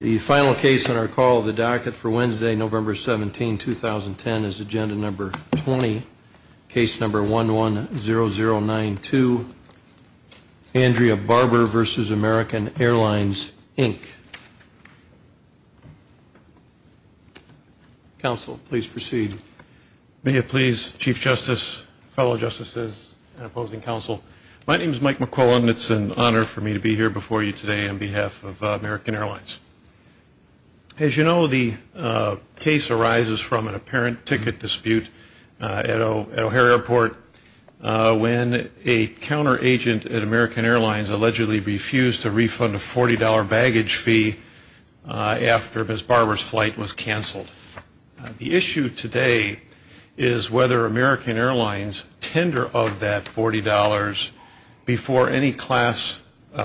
The final case on our call of the docket for Wednesday, November 17, 2010, is agenda number 20, case number 110092, Andrea Barber v. American Airlines, Inc. Counsel, please proceed. May it please Chief Justice, fellow Justices, and opposing counsel, my name is Mike McClellan. It's an honor for me to be here before you today on behalf of American Airlines. As you know, the case arises from an apparent ticket dispute at O'Hare Airport when a counteragent at American Airlines allegedly refused to refund a $40 baggage fee after Ms. Barber's flight was canceled. The issue today is whether American Airlines tender of that $40 before any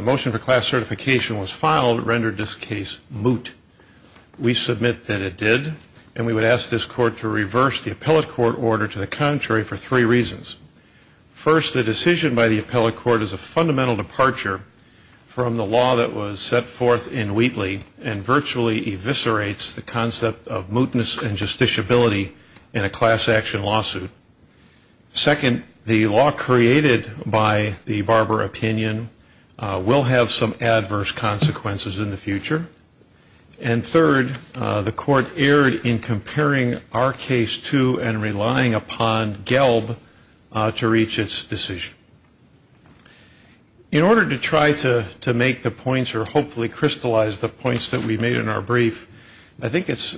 motion for class certification was filed rendered this case moot. We submit that it did, and we would ask this court to reverse the appellate court order to the contrary for three reasons. First, the decision by the appellate court is a fundamental departure from the law that was set forth in Wheatley and virtually eviscerates the concept of mootness and justiciability in a class action lawsuit. Second, the law created by the Barber opinion will have some adverse consequences in the future. And third, the court erred in comparing our case to and relying upon Gelb to reach its decision. In order to try to make the points or hopefully crystallize the points that we made in our brief, I think it's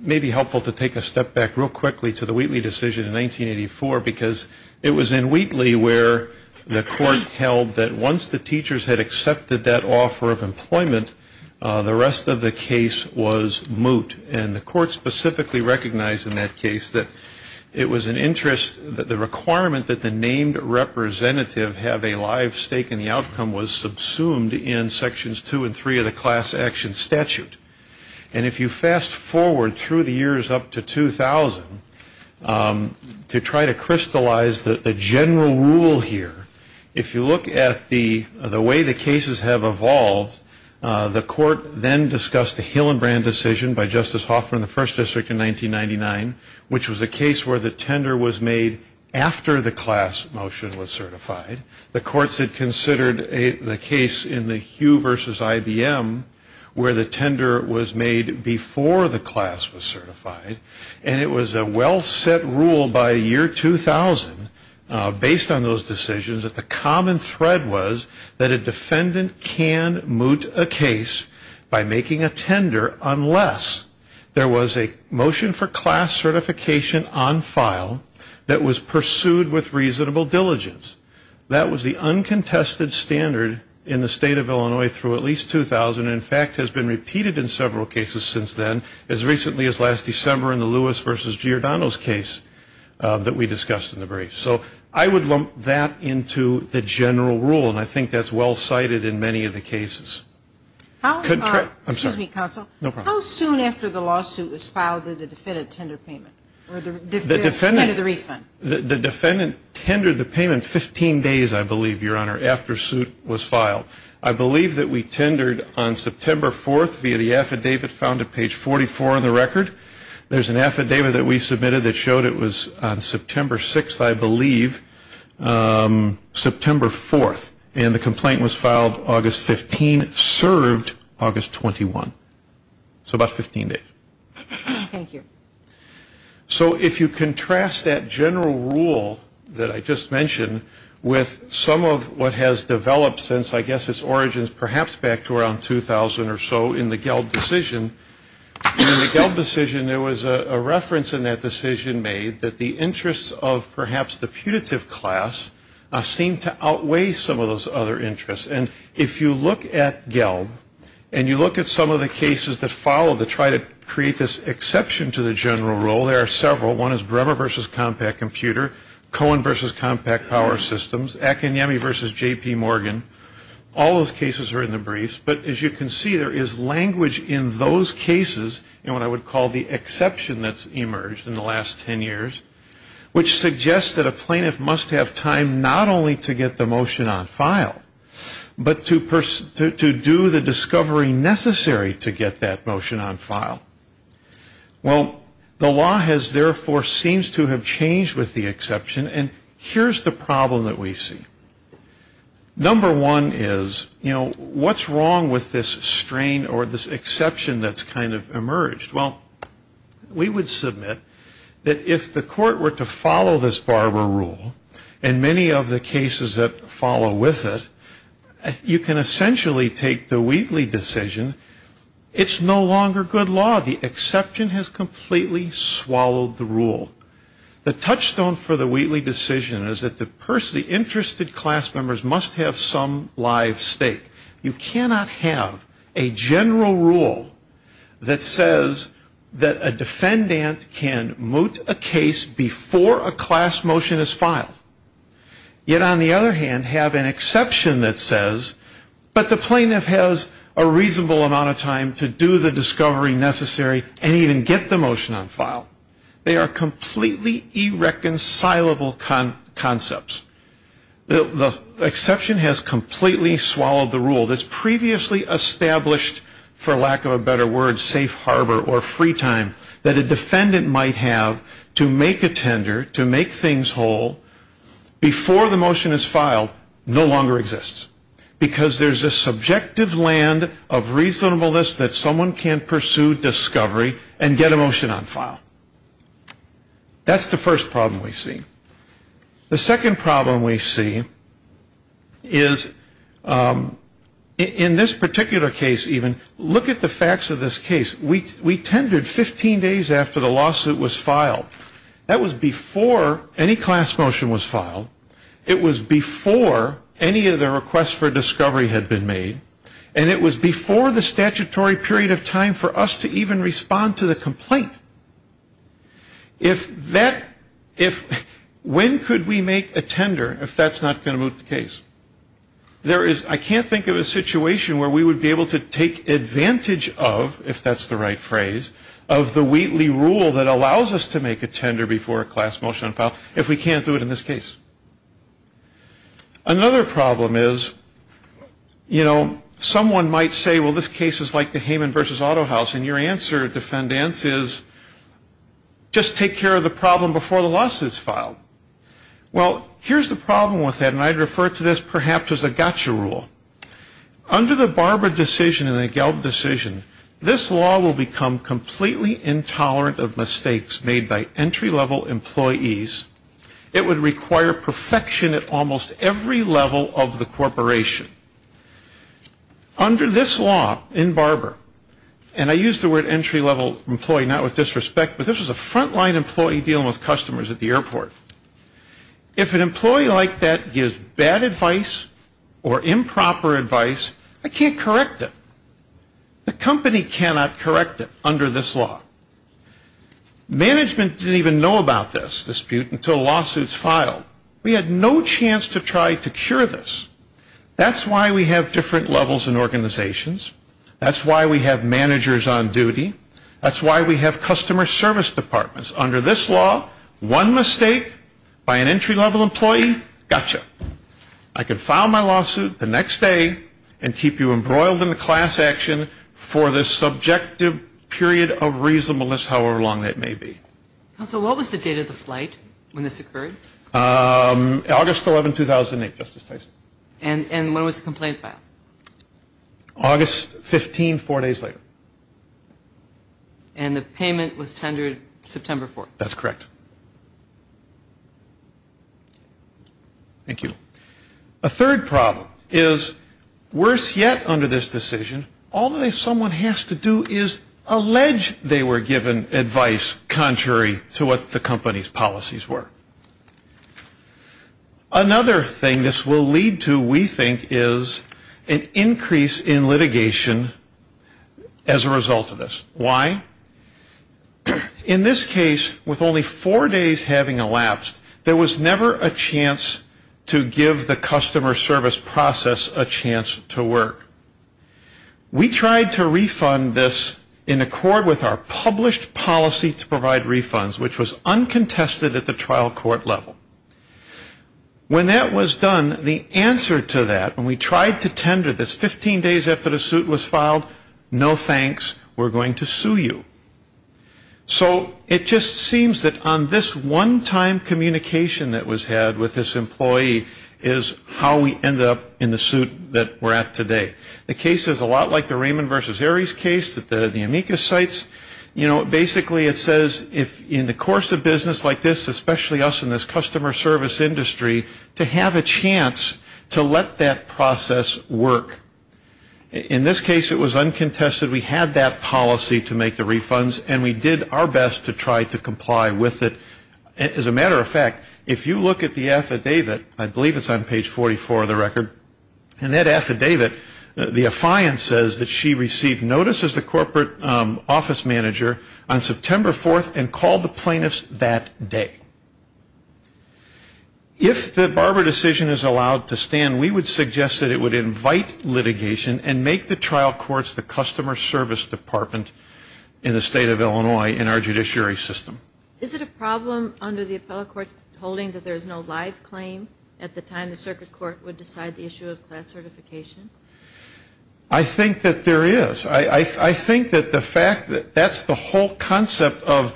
maybe helpful to take a step back real quickly to the Wheatley decision in 1984, because it was in Wheatley where the court held that once the teachers had accepted that offer of employment, the rest of the case was moot. And the court specifically recognized in that case that it was an interest, that the requirement that the named representative have a live stake in the outcome was subsumed in sections two and three of the class action statute. And if you fast forward through the years up to 2000, to try to crystallize the general rule here, if you look at the way the cases have evolved, the court then discussed the Hillenbrand decision by Justice Hoffman in the First District in 1999, which was a case where the tender was made after the class motion was certified. The courts had considered the case in the Hugh versus IBM where the tender was made before the class was certified. And it was a well-set rule by year 2000, based on those decisions, that the common thread was that a defendant can moot a case by making a tender unless there was a motion for class certification on file that was pursued with reasonable diligence. That was the uncontested standard in the state of Illinois through at least 2000, and in fact has been repeated in several cases since then, as recently as last December in the Lewis versus Giordano's case that we discussed in the brief. So I would lump that into the general rule, and I think that's well-cited in many of the cases. How soon after the lawsuit was filed did the defendant tender payment? The defendant tendered the payment 15 days, I believe, Your Honor, after suit was filed. I believe that we tendered on September 4th via the affidavit found at page 44 in the record. There's an affidavit that we submitted that showed it was on September 6th, I believe, September 4th. And the complaint was filed August 15, served August 21. So about 15 days. Thank you. So if you contrast that general rule that I just mentioned with some of what has developed since I guess its origins perhaps back to around 2000 or so in the Gelb decision, in the Gelb decision there was a reference in that decision made that the interests of perhaps the putative class seemed to outweigh some of those other interests. And if you look at Gelb, and you look at some of the cases that followed to try to create this exception to the general rule, there are several. One is Bremer v. Compaq Computer, Cohen v. Compaq Power Systems, Akinyemi v. J.P. Morgan. All those cases are in the briefs, but as you can see there is language in those cases in what I would call the exception that's emerged in the last 10 years, which suggests that a plaintiff must have time not only to get the motion on file, but to do the discovery necessary to get that motion on file. Well, the law has therefore seems to have changed with the exception, and here's the problem that we see. Number one is, you know, what's wrong with this strain or this exception that's kind of emerged? Well, we would submit that if the court were to follow this Barber rule, and many of the cases that follow with it, you can essentially take the Wheatley decision. It's no longer good law. The exception has completely swallowed the rule. The touchstone for the Wheatley decision is that the interested class members must have some live stake. You cannot have a general rule that says that a defendant can moot a case before a class motion is filed. Yet, on the other hand, have an exception that says, but the plaintiff has a reasonable amount of time to do the discovery necessary and even get the motion on file. They are completely irreconcilable concepts. The exception has completely swallowed the rule that's previously established, for lack of a better word, safe harbor or free time that a defendant might have to make a tender, to make things whole, before the motion is filed, no longer exists. Because there's a subjective land of reasonableness that someone can pursue discovery and get a motion on file. That's the first problem we see. The second problem we see is, in this particular case even, look at the facts of this case. We tendered 15 days after the lawsuit was filed. That was before any class motion was filed. It was before any of the requests for discovery had been made. And it was before the statutory period of time for us to even respond to the complaint. If that, if, when could we make a tender if that's not going to moot the case? There is, I can't think of a situation where we would be able to take advantage of, if that's the right phrase, of the Wheatley rule that allows us to make a tender before a class motion is filed, if we can't do it in this case. Another problem is, you know, someone might say, well, this case is like the Hayman versus Auto House. And your answer, defendants, is just take care of the problem before the lawsuit is filed. Well, here's the problem with that. And I refer to this, perhaps, as a gotcha rule. Under the Barber decision and the Gelb decision, this law will become completely intolerant of mistakes made by entry-level employees. It would require perfection at almost every level of the corporation. Under this law in Barber, and I use the word entry-level employee not with disrespect, but this was a frontline employee dealing with customers at the airport. If an employee like that gives bad advice or improper advice, I can't correct it. The company cannot correct it under this law. Management didn't even know about this dispute until lawsuits filed. We had no chance to try to cure this. That's why we have different levels and organizations. That's why we have managers on duty. That's why we have customer service departments. Under this law, one mistake by an entry-level employee, gotcha. I can file my lawsuit the next day and keep you embroiled in the class action for the subjective period of reasonableness, however long that may be. Counsel, what was the date of the flight when this occurred? August 11, 2008, Justice Tyson. And when was the complaint filed? August 15, four days later. And the payment was tendered September 4th. That's correct. Thank you. A third problem is, worse yet under this decision, all that someone has to do is allege they were given advice contrary to what the company's policies were. Another thing this will lead to, we think, is an increase in litigation as a result of this. Why? In this case, with only four days having elapsed, there was never a chance to give the customer service process a chance to work. We tried to refund this in accord with our published policy to provide refunds, which was uncontested at the trial court level. When that was done, the answer to that, when we tried to tender this 15 days after the suit was filed, no thanks, we're going to sue you. So it just seems that on this one-time communication that was had with this employee is how we ended up in the suit that we're at today. The case is a lot like the Raymond versus Aries case that the amicus cites. You know, basically it says if in the course of business like this, especially us in this customer service industry, to have a chance to let that process work. In this case, it was uncontested. We had that policy to make the refunds, and we did our best to try to comply with it. As a matter of fact, if you look at the affidavit, I believe it's on page 44 of the record, and that affidavit, the affiant says that she received notice as the corporate office manager on September 4th and called the plaintiffs that day. If the Barber decision is allowed to stand, we would suggest that it would invite litigation and make the trial courts the customer service department in the state of Illinois in our judiciary system. Is it a problem under the appellate court's holding that there's no live claim at the time the circuit court would decide the issue of class certification? I think that there is. I think that the fact that that's the whole concept of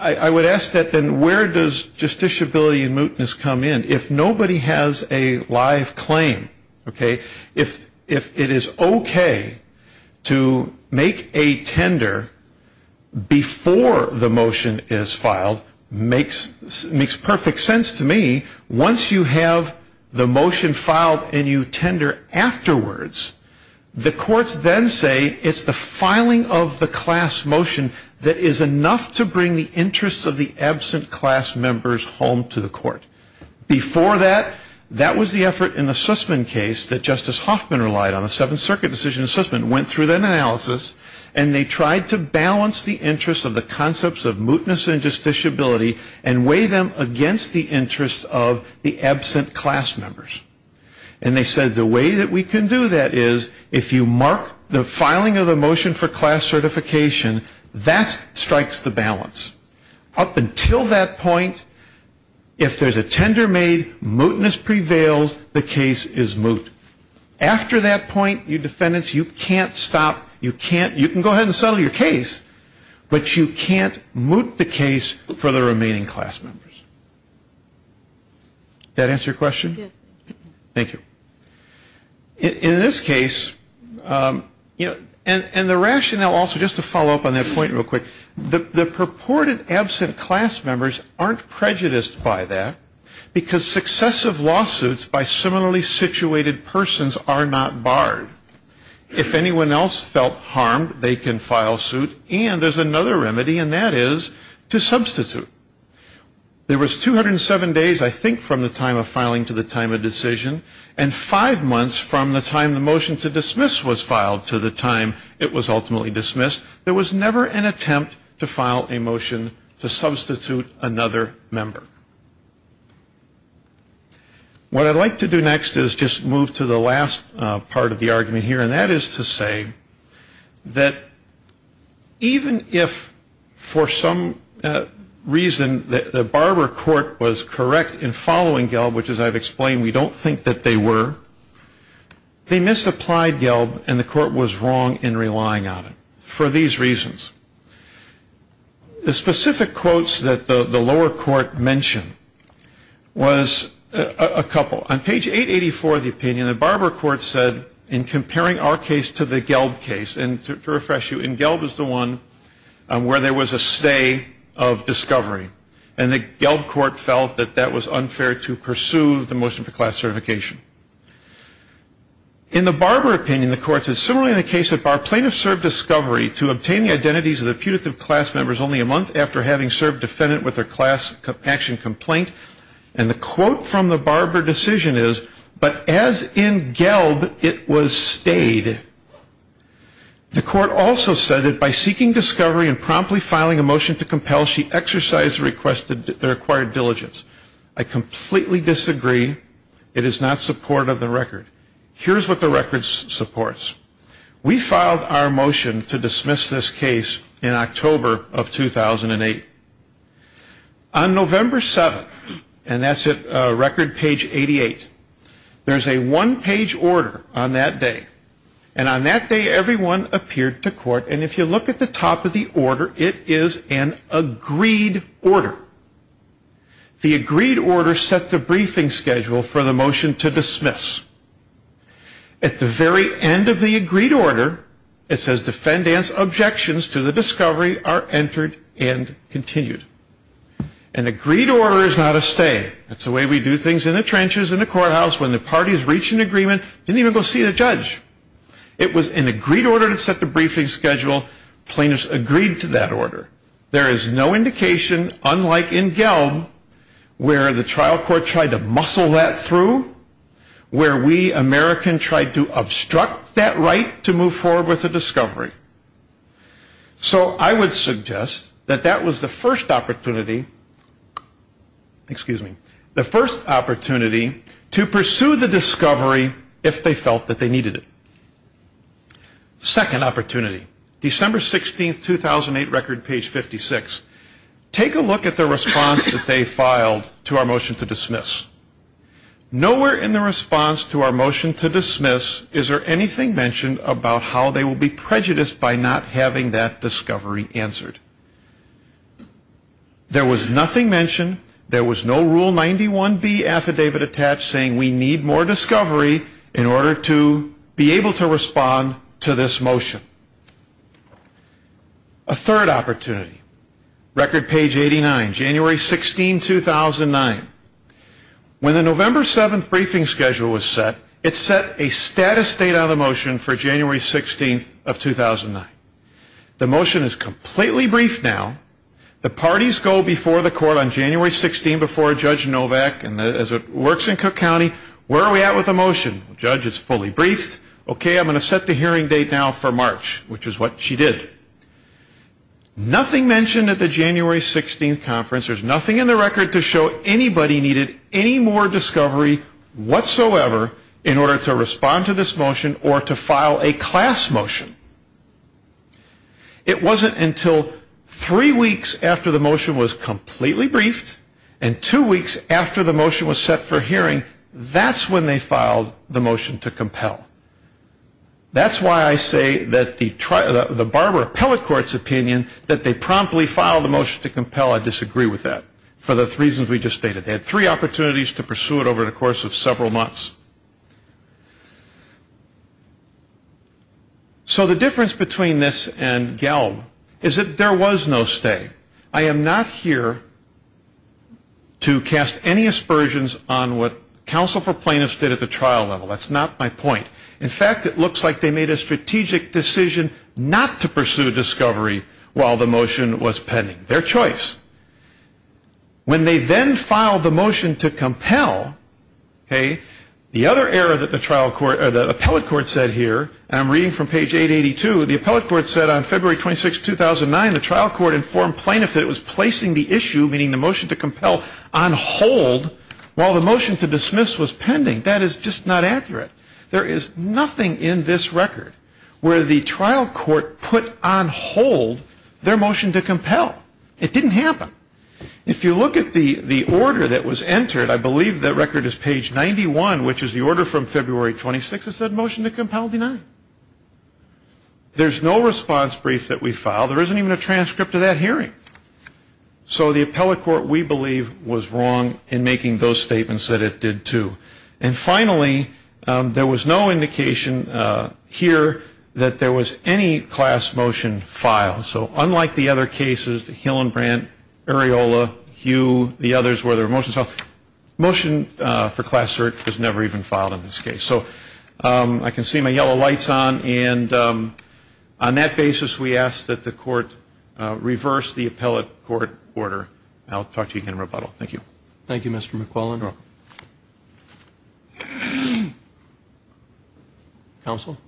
I would ask that then where does justiciability and mootness come in? If nobody has a live claim, okay, if it is okay to make a tender before the motion is filed, makes perfect sense to me. Once you have the motion filed and you tender afterwards, the courts then say it's the filing of the class motion that is enough to bring the interests of the absent class members home to the court. Before that, that was the effort in the Sussman case that Justice Hoffman relied on, the Seventh Circuit decision in Sussman, went through that analysis and they tried to balance the interests of the concepts of mootness and justiciability and weigh them against the interests of the absent class members. And they said the way that we can do that is if you mark the filing of the motion for class certification, that strikes the balance. Up until that point, if there's a tender made, mootness prevails, the case is moot. After that point, your defendants, you can't stop, you can't, you can file your case, but you can't moot the case for the remaining class members. That answer your question? Yes. Thank you. In this case, you know, and the rationale also, just to follow up on that point real quick, the purported absent class members aren't prejudiced by that because successive lawsuits by similarly situated persons are not barred. If anyone else felt harmed, they can file suit and there's another remedy and that is to substitute. There was 207 days, I think, from the time of filing to the time of decision and five months from the time the motion to dismiss was filed to the time it was ultimately dismissed, there was never an attempt to file a motion to substitute another member. What I'd like to do next is just move to the last part of the argument here and that is to say that even if for some reason the Barber court was correct in following Gelb, which as I've explained, we don't think that they were, they misapplied Gelb and the court was wrong in relying on it for these reasons. The specific quotes that the lower court mentioned was a couple. On page 884 of the opinion, the Barber court said in comparing our case to the Gelb case and to refresh you, in Gelb is the one where there was a stay of discovery and the Gelb court felt that that was unfair to pursue the motion for class certification. In the Barber opinion, the court said, similarly in the case of Barber, the plaintiff served discovery to obtain the identities of the putative class members only a month after having served defendant with a class action complaint and the quote from the Barber decision is, but as in Gelb, it was stayed. The court also said that by seeking discovery and promptly filing a motion to compel, she exercised the required diligence. I completely disagree. It is not support of the record. Here's what the record supports. We filed our motion to dismiss this case in October of 2008. On November 7th, and that's at record page 88, there's a one-page order on that day and on that day everyone appeared to court and if you look at the top of the order, it is an agreed order. The agreed order set the briefing schedule for the motion to dismiss. At the very end of the agreed order, it says defendant's objections to the discovery are entered and continued. An agreed order is not a stay. That's the way we do things in the trenches, in the courthouse, when the parties reach an agreement, didn't even go see the judge. It was an agreed order that set the briefing schedule, plaintiffs agreed to that order. There is no indication, unlike in Gelb, where the trial court tried to muscle that through, where we Americans tried to obstruct that right to move forward with the discovery. So I would suggest that that was the first opportunity, excuse me, the first opportunity to pursue the discovery if they felt that they needed it. Second opportunity, December 16th, 2008, record page 56. Take a look at the response that they filed to our motion to dismiss. Nowhere in the response to our motion to dismiss is there anything mentioned about how they will be prejudiced by not having that discovery answered. There was nothing mentioned. There was no Rule 91B affidavit attached saying we need more discovery in order to be able to respond to this motion. A third opportunity, record page 89, January 16, 2009. When the November 7th briefing schedule was set, it set a status date on the motion for January 16th of 2009. The motion is completely briefed now. The parties go before the court on January 16th before Judge Novak and as it works in Cook County, where are we at with the motion? Judge, it's fully briefed. Okay, I'm going to set the hearing date now for March, which is what she did. Nothing mentioned at the January 16th conference. There's nothing in the record to show anybody needed any more discovery whatsoever in order to respond to this motion or to file a class motion. It wasn't until three weeks after the motion was completely briefed and two weeks after the motion was set for hearing, that's when they filed the motion to compel. That's why I say that the Barbara Appellate Court's opinion that they promptly filed the motion to compel, I disagree with that for the reasons we just stated. They had three opportunities to pursue it over the course of several months. So the difference between this and Gelb is that there was no stay. I am not here to cast any aspersions on what Counsel for Plaintiffs did at the trial level. That's not my point. In fact, it looks like they made a strategic decision not to pursue discovery while the motion was pending. Their choice. When they then filed the motion to compel, the other error that the Appellate Court said here, and I'm reading from page 882, the Appellate Court said on February 26, 2009, the trial court informed plaintiff that it was placing the issue, meaning the motion to compel, on hold while the motion to dismiss was pending. That is just not accurate. There is nothing in this record where the trial court put on hold their motion to compel. It didn't happen. If you look at the order that was entered, I believe that record is page 91, which is the order from February 26 that said motion to compel denied. There's no response brief that we filed. There isn't even a transcript of that hearing. So the Appellate Court, we believe, was wrong in making those statements that it did too. And finally, there was no indication here that there was any class motion filed. So unlike the other cases, the Hillenbrandt, Areola, Hugh, the others where there were motions filed, motion for class search was never even filed in this case. So I can see my yellow lights on. And on that basis, we ask that the Court reverse the Appellate Court order. I'll talk to you again in rebuttal. Thank you. Thank you, Mr. McQuillan. You're welcome. Counsel?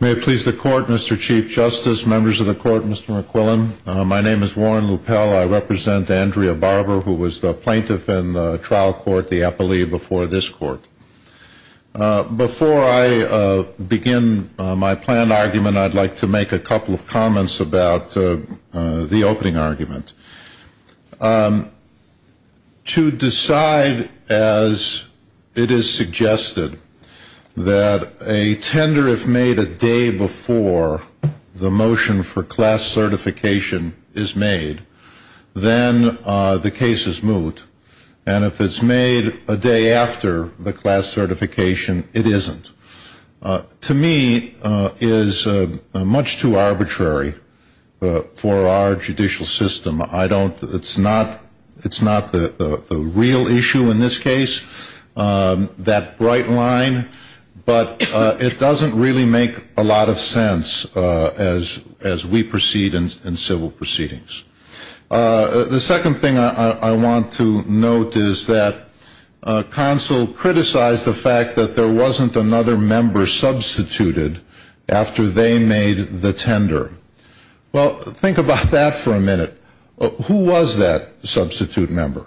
May it please the Court, Mr. Chief Justice, members of the Court, Mr. McQuillan. My name is Warren Luppell. I represent Andrea Barber, who was the plaintiff in the trial court, the Appellee, before this court. Before I begin my planned argument, I'd like to make a couple of comments about the opening argument. To decide, as it is suggested, that a tender if made a day before the motion for class certification is made, then the case is moot. And if it's made a day after the class certification, it isn't. To me, it is much too arbitrary for our judicial system. It's not the real issue in this case, that bright line. But it doesn't really make a lot of sense as we proceed in civil proceedings. The second thing I want to note is that counsel criticized the fact that there wasn't another member substituted after they made the tender. Well, think about that for a minute. Who was that substitute member?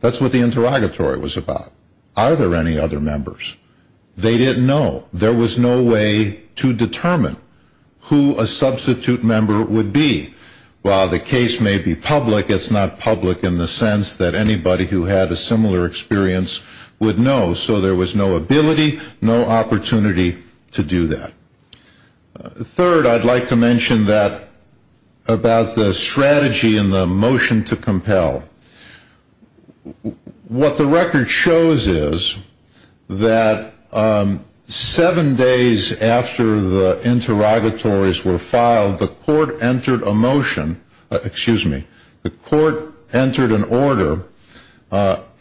That's what the interrogatory was about. Are there any other members? They didn't know. There was no way to determine who a substitute member would be. While the case may be public, it's not public in the sense that anybody who had a similar experience would know. So there was no ability, no opportunity to do that. Third, I'd like to mention that about the strategy in the motion to compel. What the record shows is that seven days after the interrogatories were filed, the court entered a motion, excuse me, the court entered an order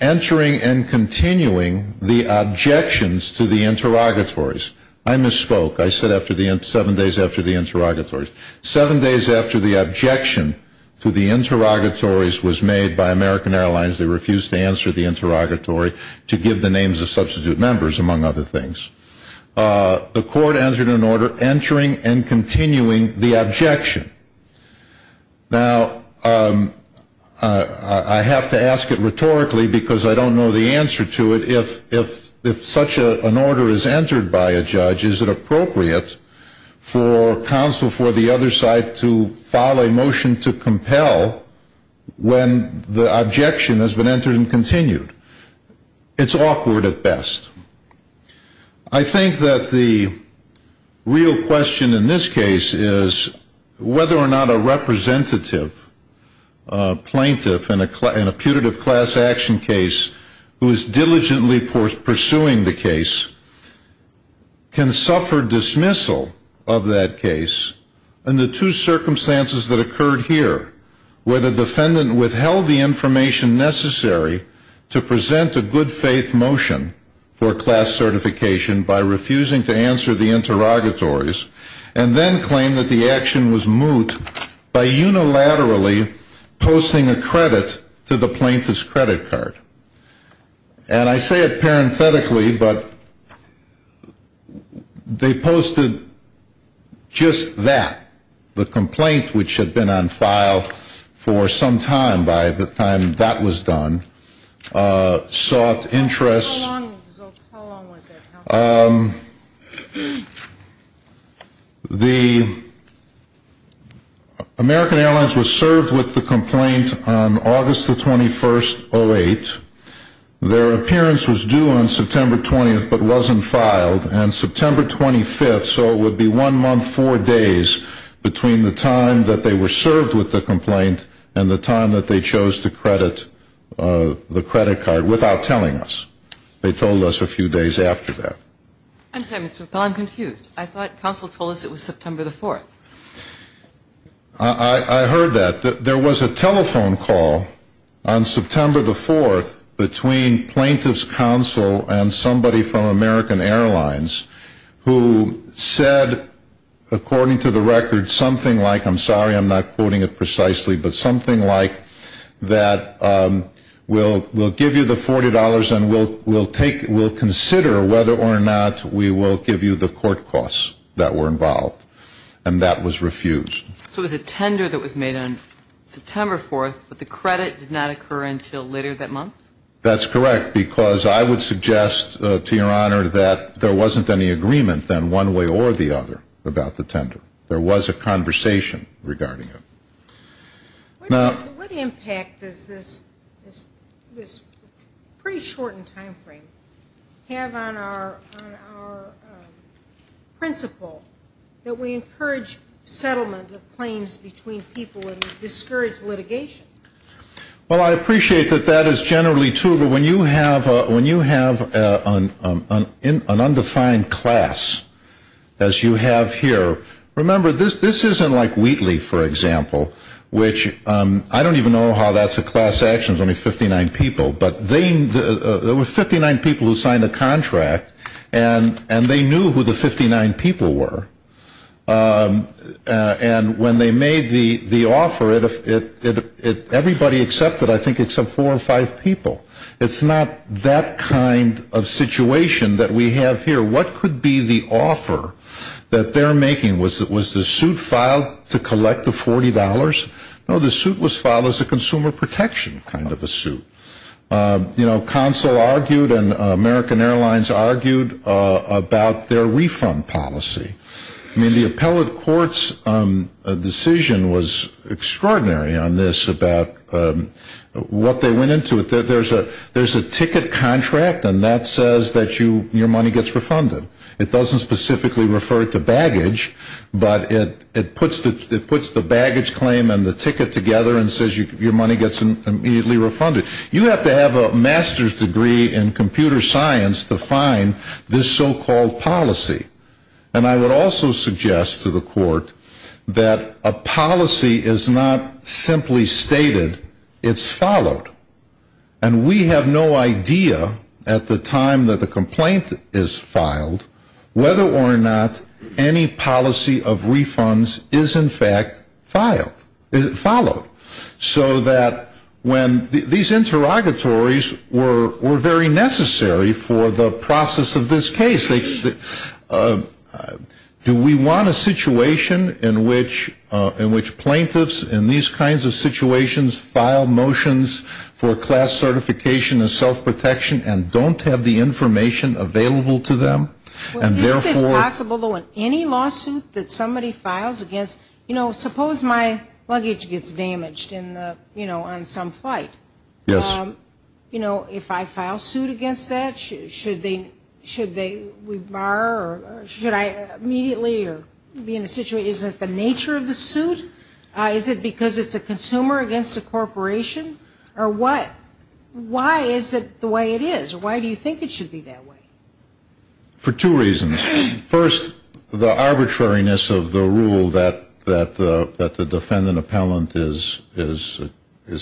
entering and continuing the objections to the interrogatories. I misspoke. I said seven days after the interrogatories. Seven days after the objection to the interrogatories was made by American Airlines, they refused to answer the interrogatory to give the names of substitute members, among other things. The court entered an order entering and continuing the objection. Now, I have to ask it rhetorically because I don't know the answer to it. If such an order is entered by a judge, is it appropriate for counsel for the other side to file a motion to compel when the objection has been entered and continued? It's awkward at best. I think that the real question in this case is whether or not a representative, a plaintiff in a putative class action case who is diligently pursuing the case can suffer dismissal of that case under two circumstances that occurred here, where the defendant withheld the information necessary to present a good faith motion for a class certification by refusing to answer the interrogatories and then claimed that the action was moot by unilaterally posting a credit to the plaintiff's credit card. And I say it parenthetically, but they posted just that, the complaint which had been on file for some time by the time that was done sought interest. How long was it? American Airlines was served with the complaint on August the 21st, 08. Their appearance was due on September 20th, but wasn't filed. And September 25th, so it would be one month, four days, between the time that they were served with the complaint and the time that they chose to credit the credit card without telling us. They told us a few days after that. I'm sorry, Mr. Rappel, I'm confused. I thought counsel told us it was September the 4th. I heard that. There was a telephone call on September the 4th between plaintiff's counsel and somebody from American Airlines who said, according to the record, something like, I'm sorry I'm not quoting it precisely, but something like that we'll give you the $40 and we'll consider whether or not we will give you the court costs that were involved. And that was refused. So it was a tender that was made on September 4th, but the credit did not occur until later that month? That's correct, because I would suggest, to your honor, that there wasn't any agreement then one way or the other about the tender. There was a conversation regarding it. What impact does this pretty shortened time frame have on our principle that we encourage settlement of claims between people and discourage litigation? Well, I appreciate that that is generally true, but when you have an undefined class, as you have here, remember this isn't like Wheatley, for example, which I don't even know how that's a class action, there's only 59 people, but there were 59 people who signed the contract and they knew who the 59 people were. And when they made the offer, everybody accepted, I think, except four or five people. It's not that kind of situation that we have here. What could be the offer that they're making? Was the suit filed to collect the $40? No, the suit was filed as a consumer protection kind of a suit. Consul argued and American Airlines argued about their refund policy. I mean, the appellate court's decision was extraordinary on this about what they went into. There's a ticket contract and that says that your money gets refunded. It doesn't specifically refer to baggage, but it puts the baggage claim and the ticket together and says your money gets immediately refunded. You have to have a master's degree in computer science to find this so-called policy. And I would also suggest to the court that a policy is not simply stated, it's followed. And we have no idea, at the time that the complaint is filed, whether or not any policy of refunds is in fact followed. So that when these interrogatories were very necessary for the process of this case, do we want a situation in which plaintiffs in these kinds of situations file motions for class certification and self-protection and don't have the information available to them? Isn't this possible, though, in any lawsuit that somebody files against, you know, suppose my luggage gets damaged in the, you know, on some flight. You know, if I file suit against that, should they rebar or should I immediately be in a situation? Is it the nature of the suit? Is it because it's a consumer against a corporation or what? Why is it the way it is? Why do you think it should be that way? For two reasons. First, the arbitrariness of the rule that the defendant appellant is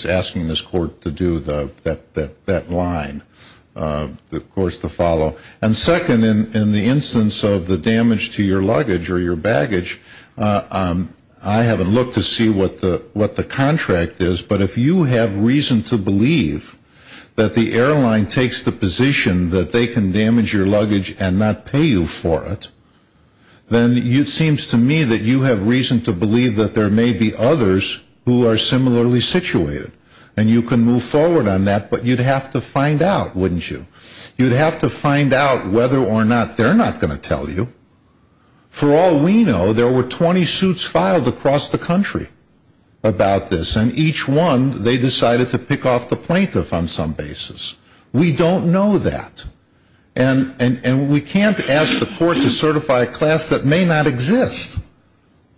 asking this court to do that line, of course, to follow. And second, in the instance of the damage to your luggage or your baggage, I haven't looked to see what the contract is, but if you have reason to believe that the airline takes the position that they can damage your luggage and not pay you for it, then it seems to me that you have reason to believe that there may be others who are similarly situated. And you can move forward on that, but you'd have to find out, wouldn't you? You'd have to find out whether or not they're not going to tell you. For all we know, there were 20 suits filed across the country about this, and each one they decided to pick off the plaintiff on some basis. We don't know that. And we can't ask the court to certify a class that may not exist.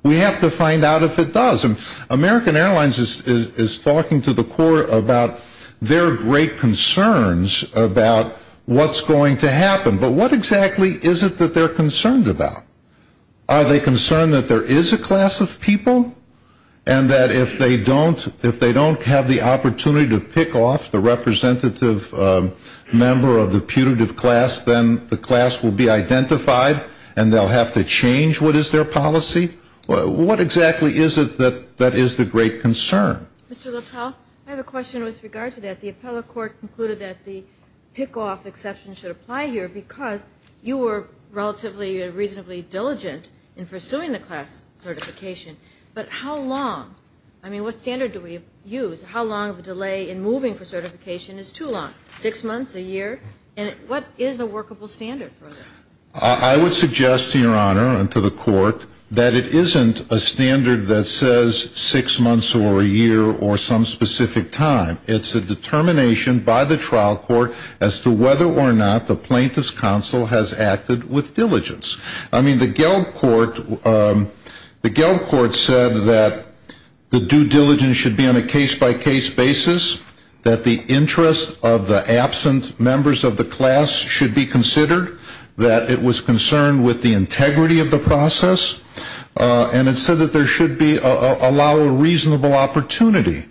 We have to find out if it does. And American Airlines is talking to the court about their great concerns about what's going to happen. But what exactly is it that they're concerned about? Are they concerned that there is a class of people? And that if they don't have the opportunity to pick off the representative member of the putative class, then the class will be identified and they'll have to change what is their policy? What exactly is it that is the great concern? Mr. LaPelle, I have a question with regard to that. The appellate court concluded that the pick-off exception should apply here because you were relatively reasonably diligent in pursuing the class certification, but how long? I mean, what standard do we use? How long of a delay in moving for certification is too long? Six months? A year? What is a workable standard for this? I would suggest to Your Honor and to the court that it isn't a standard that says six months or a year or some specific time. It's a determination by the trial court as to whether or not the plaintiff's counsel has acted with diligence. I mean, the Gelb court said that the due diligence should be on a case-by-case basis, that the interest of the absent members of the class should be considered, that it was concerned with the integrity of the process, and it said that there should allow a reasonable opportunity.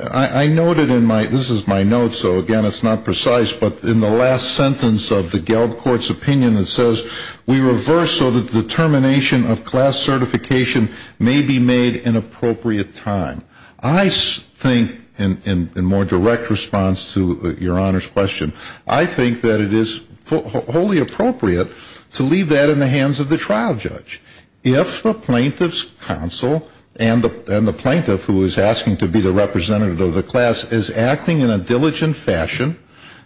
I noted in my, this is my note, so again it's not precise, but in the last sentence of the Gelb court's opinion, it says we reverse so that the determination of class certification may be made in appropriate time. I think, in more direct response to Your Honor's question, I think that it is wholly appropriate to leave that in the hands of the trial judge. If the plaintiff's counsel and the plaintiff who is asking to be the representative of the class is acting in a diligent fashion,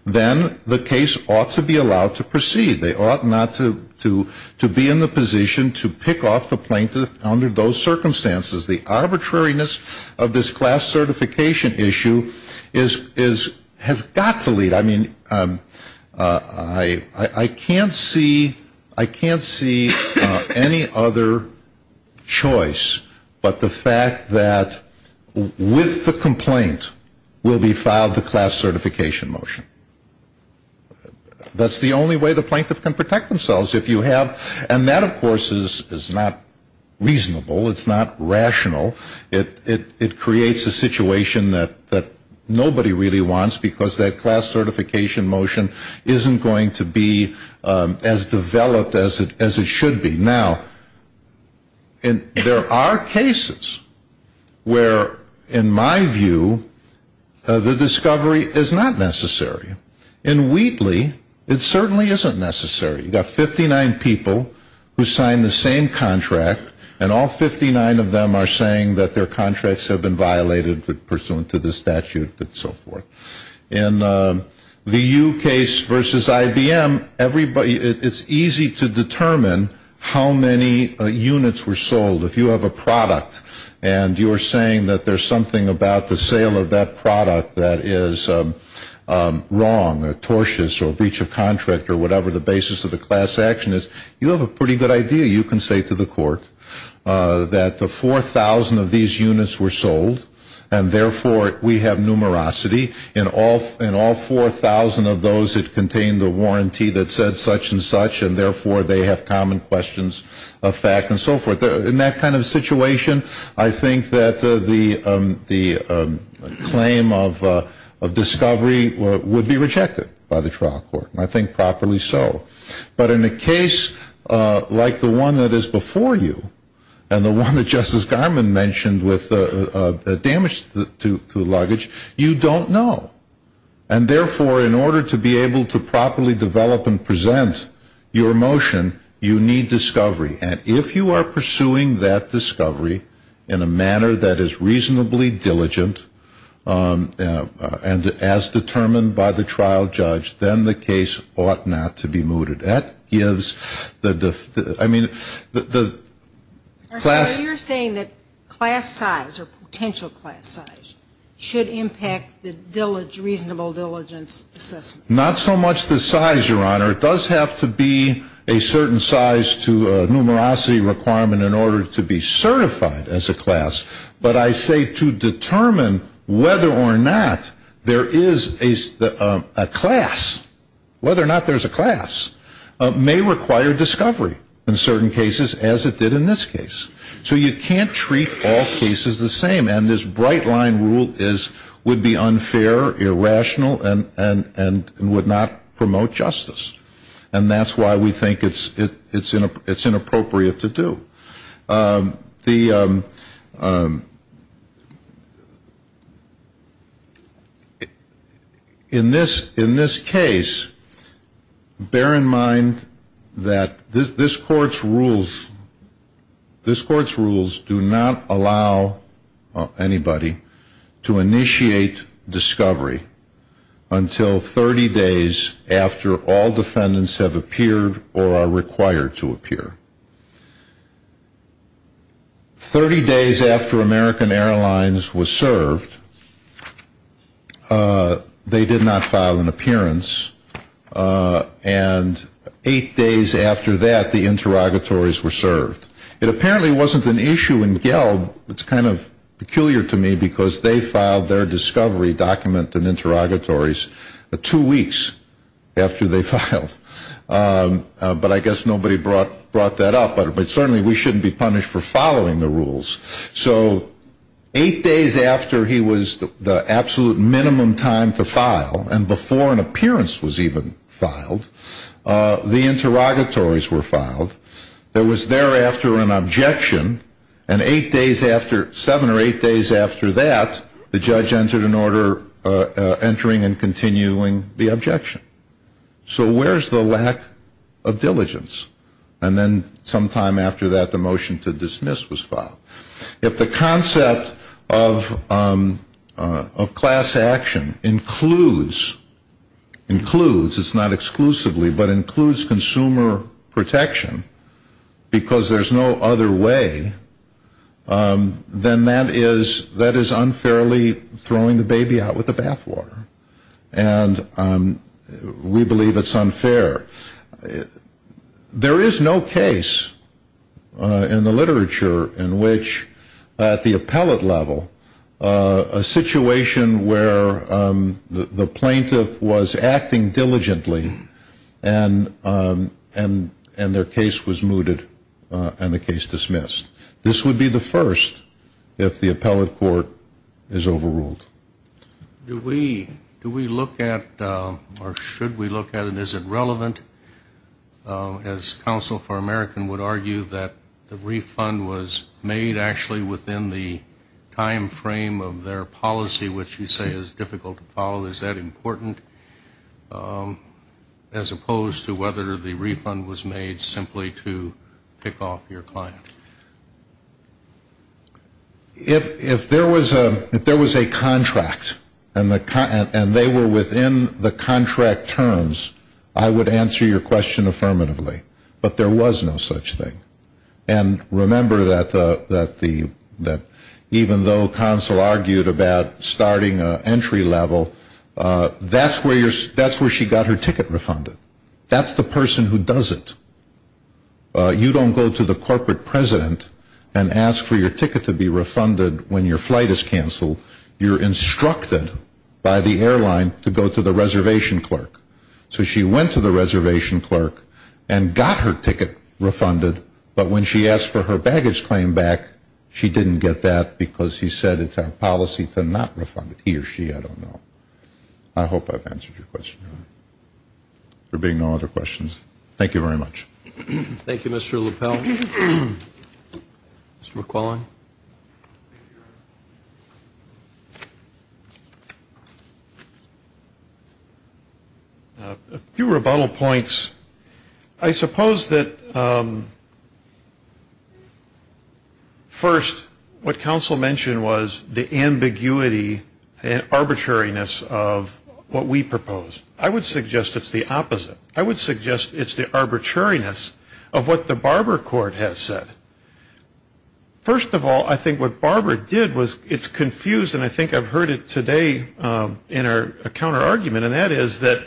then the case ought to be allowed to proceed. They ought not to be in the position to pick off the plaintiff under those circumstances. The arbitrariness of this class certification issue is, has got to lead. I mean, I can't see, I can't see any other choice but the fact that with the complaint will be filed the class certification motion. That's the only way the plaintiff can protect themselves if you have, and that of course is not reasonable, it's not rational. It creates a situation that nobody really wants because that class certification motion isn't going to be as developed as it should be. Now, there are cases where, in my view, the discovery is not necessary. In Wheatley, it certainly isn't necessary. You've got 59 people who signed the same contract and all 59 of them are saying that their contracts have been violated pursuant to the statute and so forth. In the U case versus IBM, it's easy to determine how many units were sold. If you have a product and you're saying that there's something about the sale of that product that is wrong or tortious or breach of contract or whatever the basis of the class action is, you have a pretty good idea. You can say to the court that the 4,000 of these units were sold and therefore we have numerosity in all 4,000 of those that contain the warranty that said such and such and therefore they have common questions of fact and so forth. In that kind of situation, I think that the claim of discovery would be rejected by the trial court. And I think properly so. But in a case like the one that is before you and the one that Justice Garmon mentioned with the damage to the luggage, you don't know. And therefore, in order to be able to properly develop and present your motion, you need discovery. And if you are pursuing that discovery in a manner that is reasonably diligent and as determined by the trial judge, then the case ought not to be mooted. That gives the, I mean, the class. So you're saying that class size or potential class size should impact the reasonable diligence assessment? Not so much the size, Your Honor. It does have to be a certain size to a numerosity requirement in order to be certified as a class. But I say to determine whether or not there is a class, whether or not there's a class, may require discovery in certain cases as it did in this case. So you can't treat all cases the same. And this bright line rule would be unfair, irrational, and would not promote justice. And that's why we think it's inappropriate to do. In this case, bear in mind that this Court's rules do not allow anybody to initiate discovery until 30 days after all defendants have appeared or are required to appear. 30 days after American Airlines was served, they did not file an appearance. And eight days after that, the interrogatories were served. It apparently wasn't an issue in Gelb. It's kind of peculiar to me because they filed their discovery document and interrogatories two weeks after they filed. But I guess nobody brought that up. But certainly we shouldn't be punished for following the rules. So eight days after he was the absolute minimum time to file, and before an appearance was even filed, the interrogatories were filed. There was thereafter an objection. And eight days after, seven or eight days after that, the judge entered an order entering and continuing the objection. So where's the lack of diligence? And then sometime after that, the motion to dismiss was filed. If the concept of class action includes, it's not exclusively, but includes consumer protection because there's no other way, then that is unfairly throwing the baby out with the bathwater. And we believe it's unfair. There is no case in the literature in which at the appellate level, a situation where the plaintiff was acting diligently and their case was mooted and the case dismissed. This would be the first if the appellate court is overruled. Do we look at, or should we look at, and is it relevant? As Counsel for American would argue that the refund was made actually within the time frame of their policy, which you say is difficult to follow. Is that important? As opposed to whether the refund was made simply to pick off your client. If there was a contract and they were within the contract terms, I would answer your question affirmatively. But there was no such thing. And remember that even though Counsel argued about starting an entry level, that's where she got her ticket refunded. That's the person who does it. You don't go to the corporate president and ask for your ticket to be refunded when your flight is canceled. You're instructed by the airline to go to the reservation clerk. So she went to the reservation clerk and got her ticket refunded, but when she asked for her baggage claim back, she didn't get that because he said it's our policy to not refund it, he or she, I don't know. I hope I've answered your question. There being no other questions, thank you very much. Thank you, Mr. LaPelle. Mr. McClellan. A few rebuttal points. I suppose that first, what Counsel mentioned was the ambiguity and arbitrariness of what we proposed. I would suggest it's the opposite. I would suggest it's the arbitrariness of what the Barber Court has said. First of all, I think what Barber did was it's confused, and I think I've heard it today in a counter argument, and that is that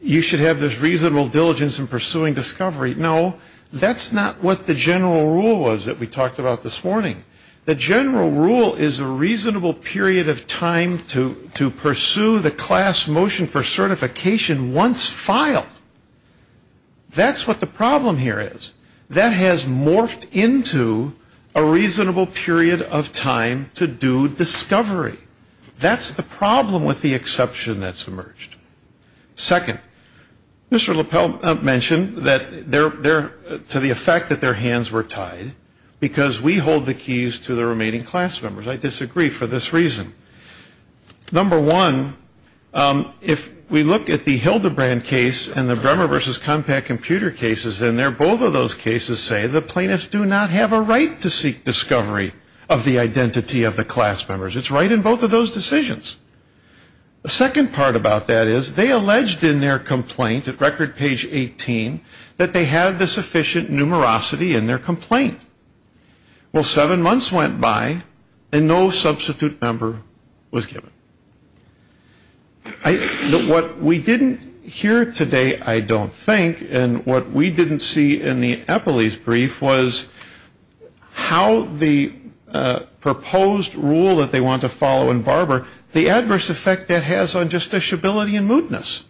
you should have this reasonable diligence in pursuing discovery. No, that's not what the general rule was that we talked about this morning. The general rule is a reasonable period of time to pursue the class motion for certification once filed. That's what the problem here is. That has morphed into a reasonable period of time to do discovery. That's the problem with the exception that's emerged. Second, Mr. LaPelle mentioned to the effect that their hands were tied because we hold the keys to the remaining class members. I disagree for this reason. Number one, if we look at the Hildebrand case and the Bremer versus Compaq computer cases in there, both of those cases say the plaintiffs do not have a right to seek discovery of the identity of the class members. It's right in both of those decisions. The second part about that is they alleged in their complaint, record page 18, that they have the sufficient numerosity in their complaint. Well, seven months went by and no substitute member was given. What we didn't hear today, I don't think, and what we didn't see in the Eppley's brief was how the proposed rule that they want to follow in Barber, the adverse effect that has on justiciability and mootness.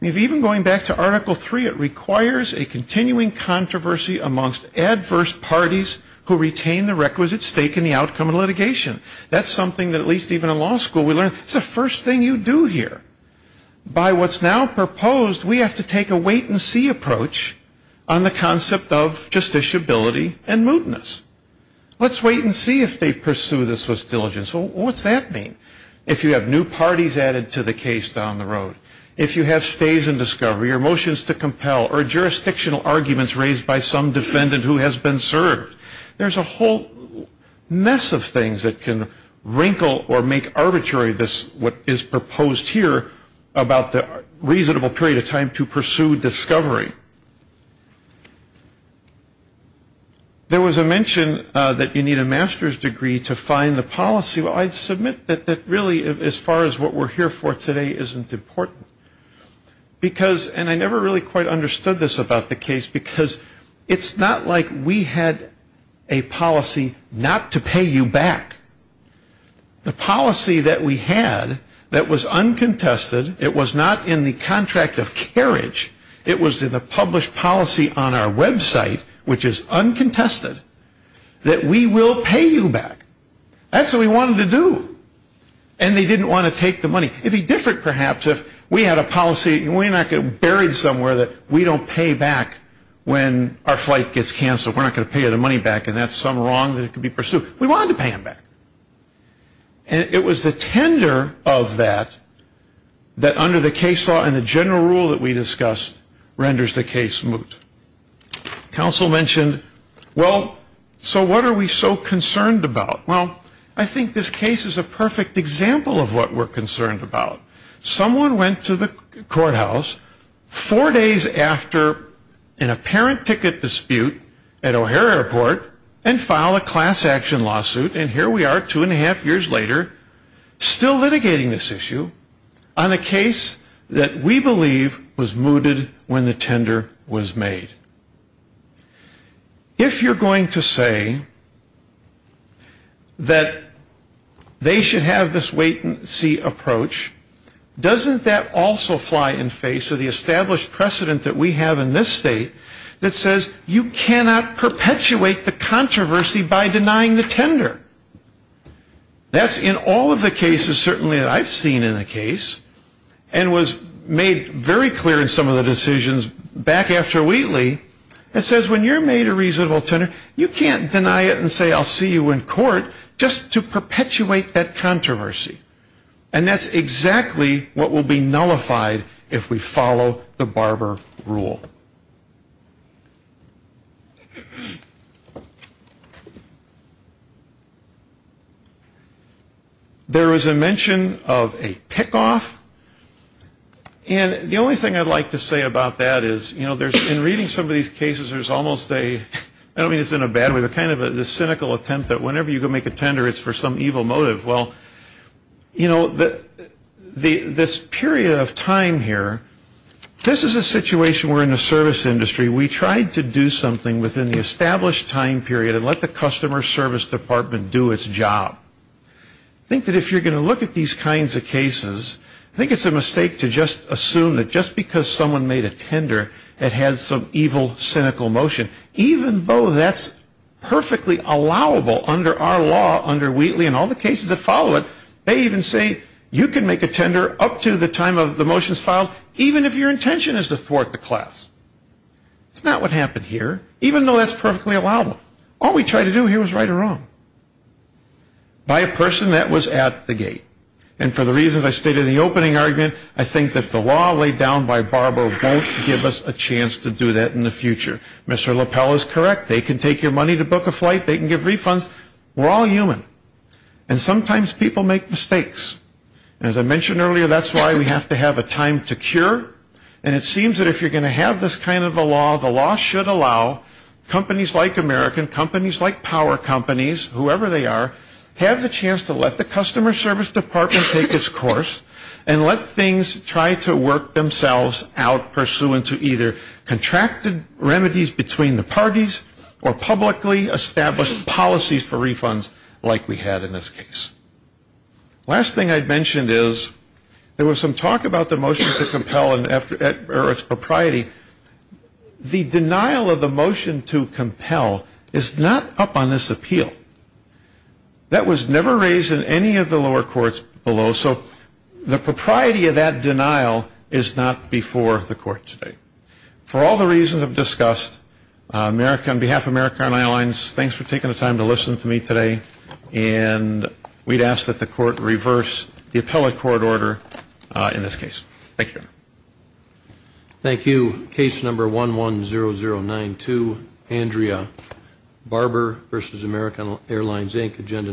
Even going back to Article 3, it requires a continuing controversy amongst adverse parties who retain the requisite stake in the outcome of litigation. That's something that at least even in law school we learn. It's the first thing you do here. By what's now proposed, we have to take a wait and see approach on the concept of justiciability and mootness. Let's wait and see if they pursue this with diligence. What's that mean? If you have new parties added to the case down the road. If you have stays in discovery or motions to compel or jurisdictional arguments raised by some defendant who has been served. There's a whole mess of things that can wrinkle or make arbitrary what is proposed here about the reasonable period of time to pursue discovery. There was a mention that you need a master's degree to find the policy. I submit that really as far as what we're here for today isn't important. I never really quite understood this about the case because it's not like we had a policy not to pay you back. The policy that we had that was uncontested, it was not in the contract of carriage, it was in the published policy on our website, which is uncontested, that we will pay you back. That's what we wanted to do. And they didn't want to take the money. It would be different, perhaps, if we had a policy and we're not buried somewhere that we don't pay back when our flight gets canceled. We're not going to pay the money back and that's some wrong that could be pursued. We wanted to pay them back. And it was the tender of that, that under the case law and the general rule that we discussed, renders the case moot. Counsel mentioned, well, so what are we so concerned about? Well, I think this case is a perfect example of what we're concerned about. Someone went to the courthouse four days after an apparent ticket dispute at O'Hare Airport and filed a class action lawsuit and here we are two and a half years later still litigating this issue on a case that we believe was mooted when the tender was made. If you're going to say that they should have this wait and see approach, doesn't that also fly in face of the established precedent that we have in this state that says you cannot perpetuate the controversy by denying the tender? That's in all of the cases certainly that I've seen in the case and was made very clear in some of the decisions back after Wheatley that says when you're made a reasonable tender, you can't deny it and say I'll see you in court just to perpetuate that controversy. And that's exactly what will be nullified if we follow the Barber rule. There was a mention of a pick off and the only thing I'd like to say about that is, you know, in reading some of these cases there's almost a, I don't mean it's in a bad way but kind of a cynical attempt that whenever you go make a tender it's for some evil motive. Well, you know, this period of time here, this is a situation where in the service industry we tried to do something within the established time period and let the customer service department do its job. I think that if you're going to look at these kinds of cases, I think it's a mistake to just assume that just because someone made a tender it had some evil cynical motion. Even though that's perfectly allowable under our law under Wheatley and all the cases that follow it, they even say you can make a tender up to the time of the motions filed even if your intention is to thwart the class. It's not what happened here, even though that's perfectly allowable. All we tried to do here was right or wrong. By a person that was at the gate. And for the reasons I stated in the opening argument, I think that the law laid down by Barber won't give us a chance to do that in the future. Mr. LaPell is correct, they can take your money to book a flight, they can give refunds, we're all human. And sometimes people make mistakes. As I mentioned earlier, that's why we have to have a time to cure. And it seems that if you're going to have this kind of a law, the law should allow companies like American, companies like power companies, whoever they are, have the chance to let the customer service department take its course and let things try to work themselves out pursuant to either contracted remedies between the parties or publicly established policies for refunds like we had in this case. Last thing I'd mentioned is there was some talk about the motion to compel or its propriety. The denial of the motion to compel is not up on this appeal. That was never raised in any of the lower courts below, so the propriety of that denial is not before the court today. For all the reasons I've discussed, on behalf of American Airlines, thanks for taking the time to listen to me today. And we'd ask that the court reverse the appellate court order in this case. Thank you. Thank you. Case number 110092, Andrea Barber versus American Airlines, Inc. Agenda number 110092.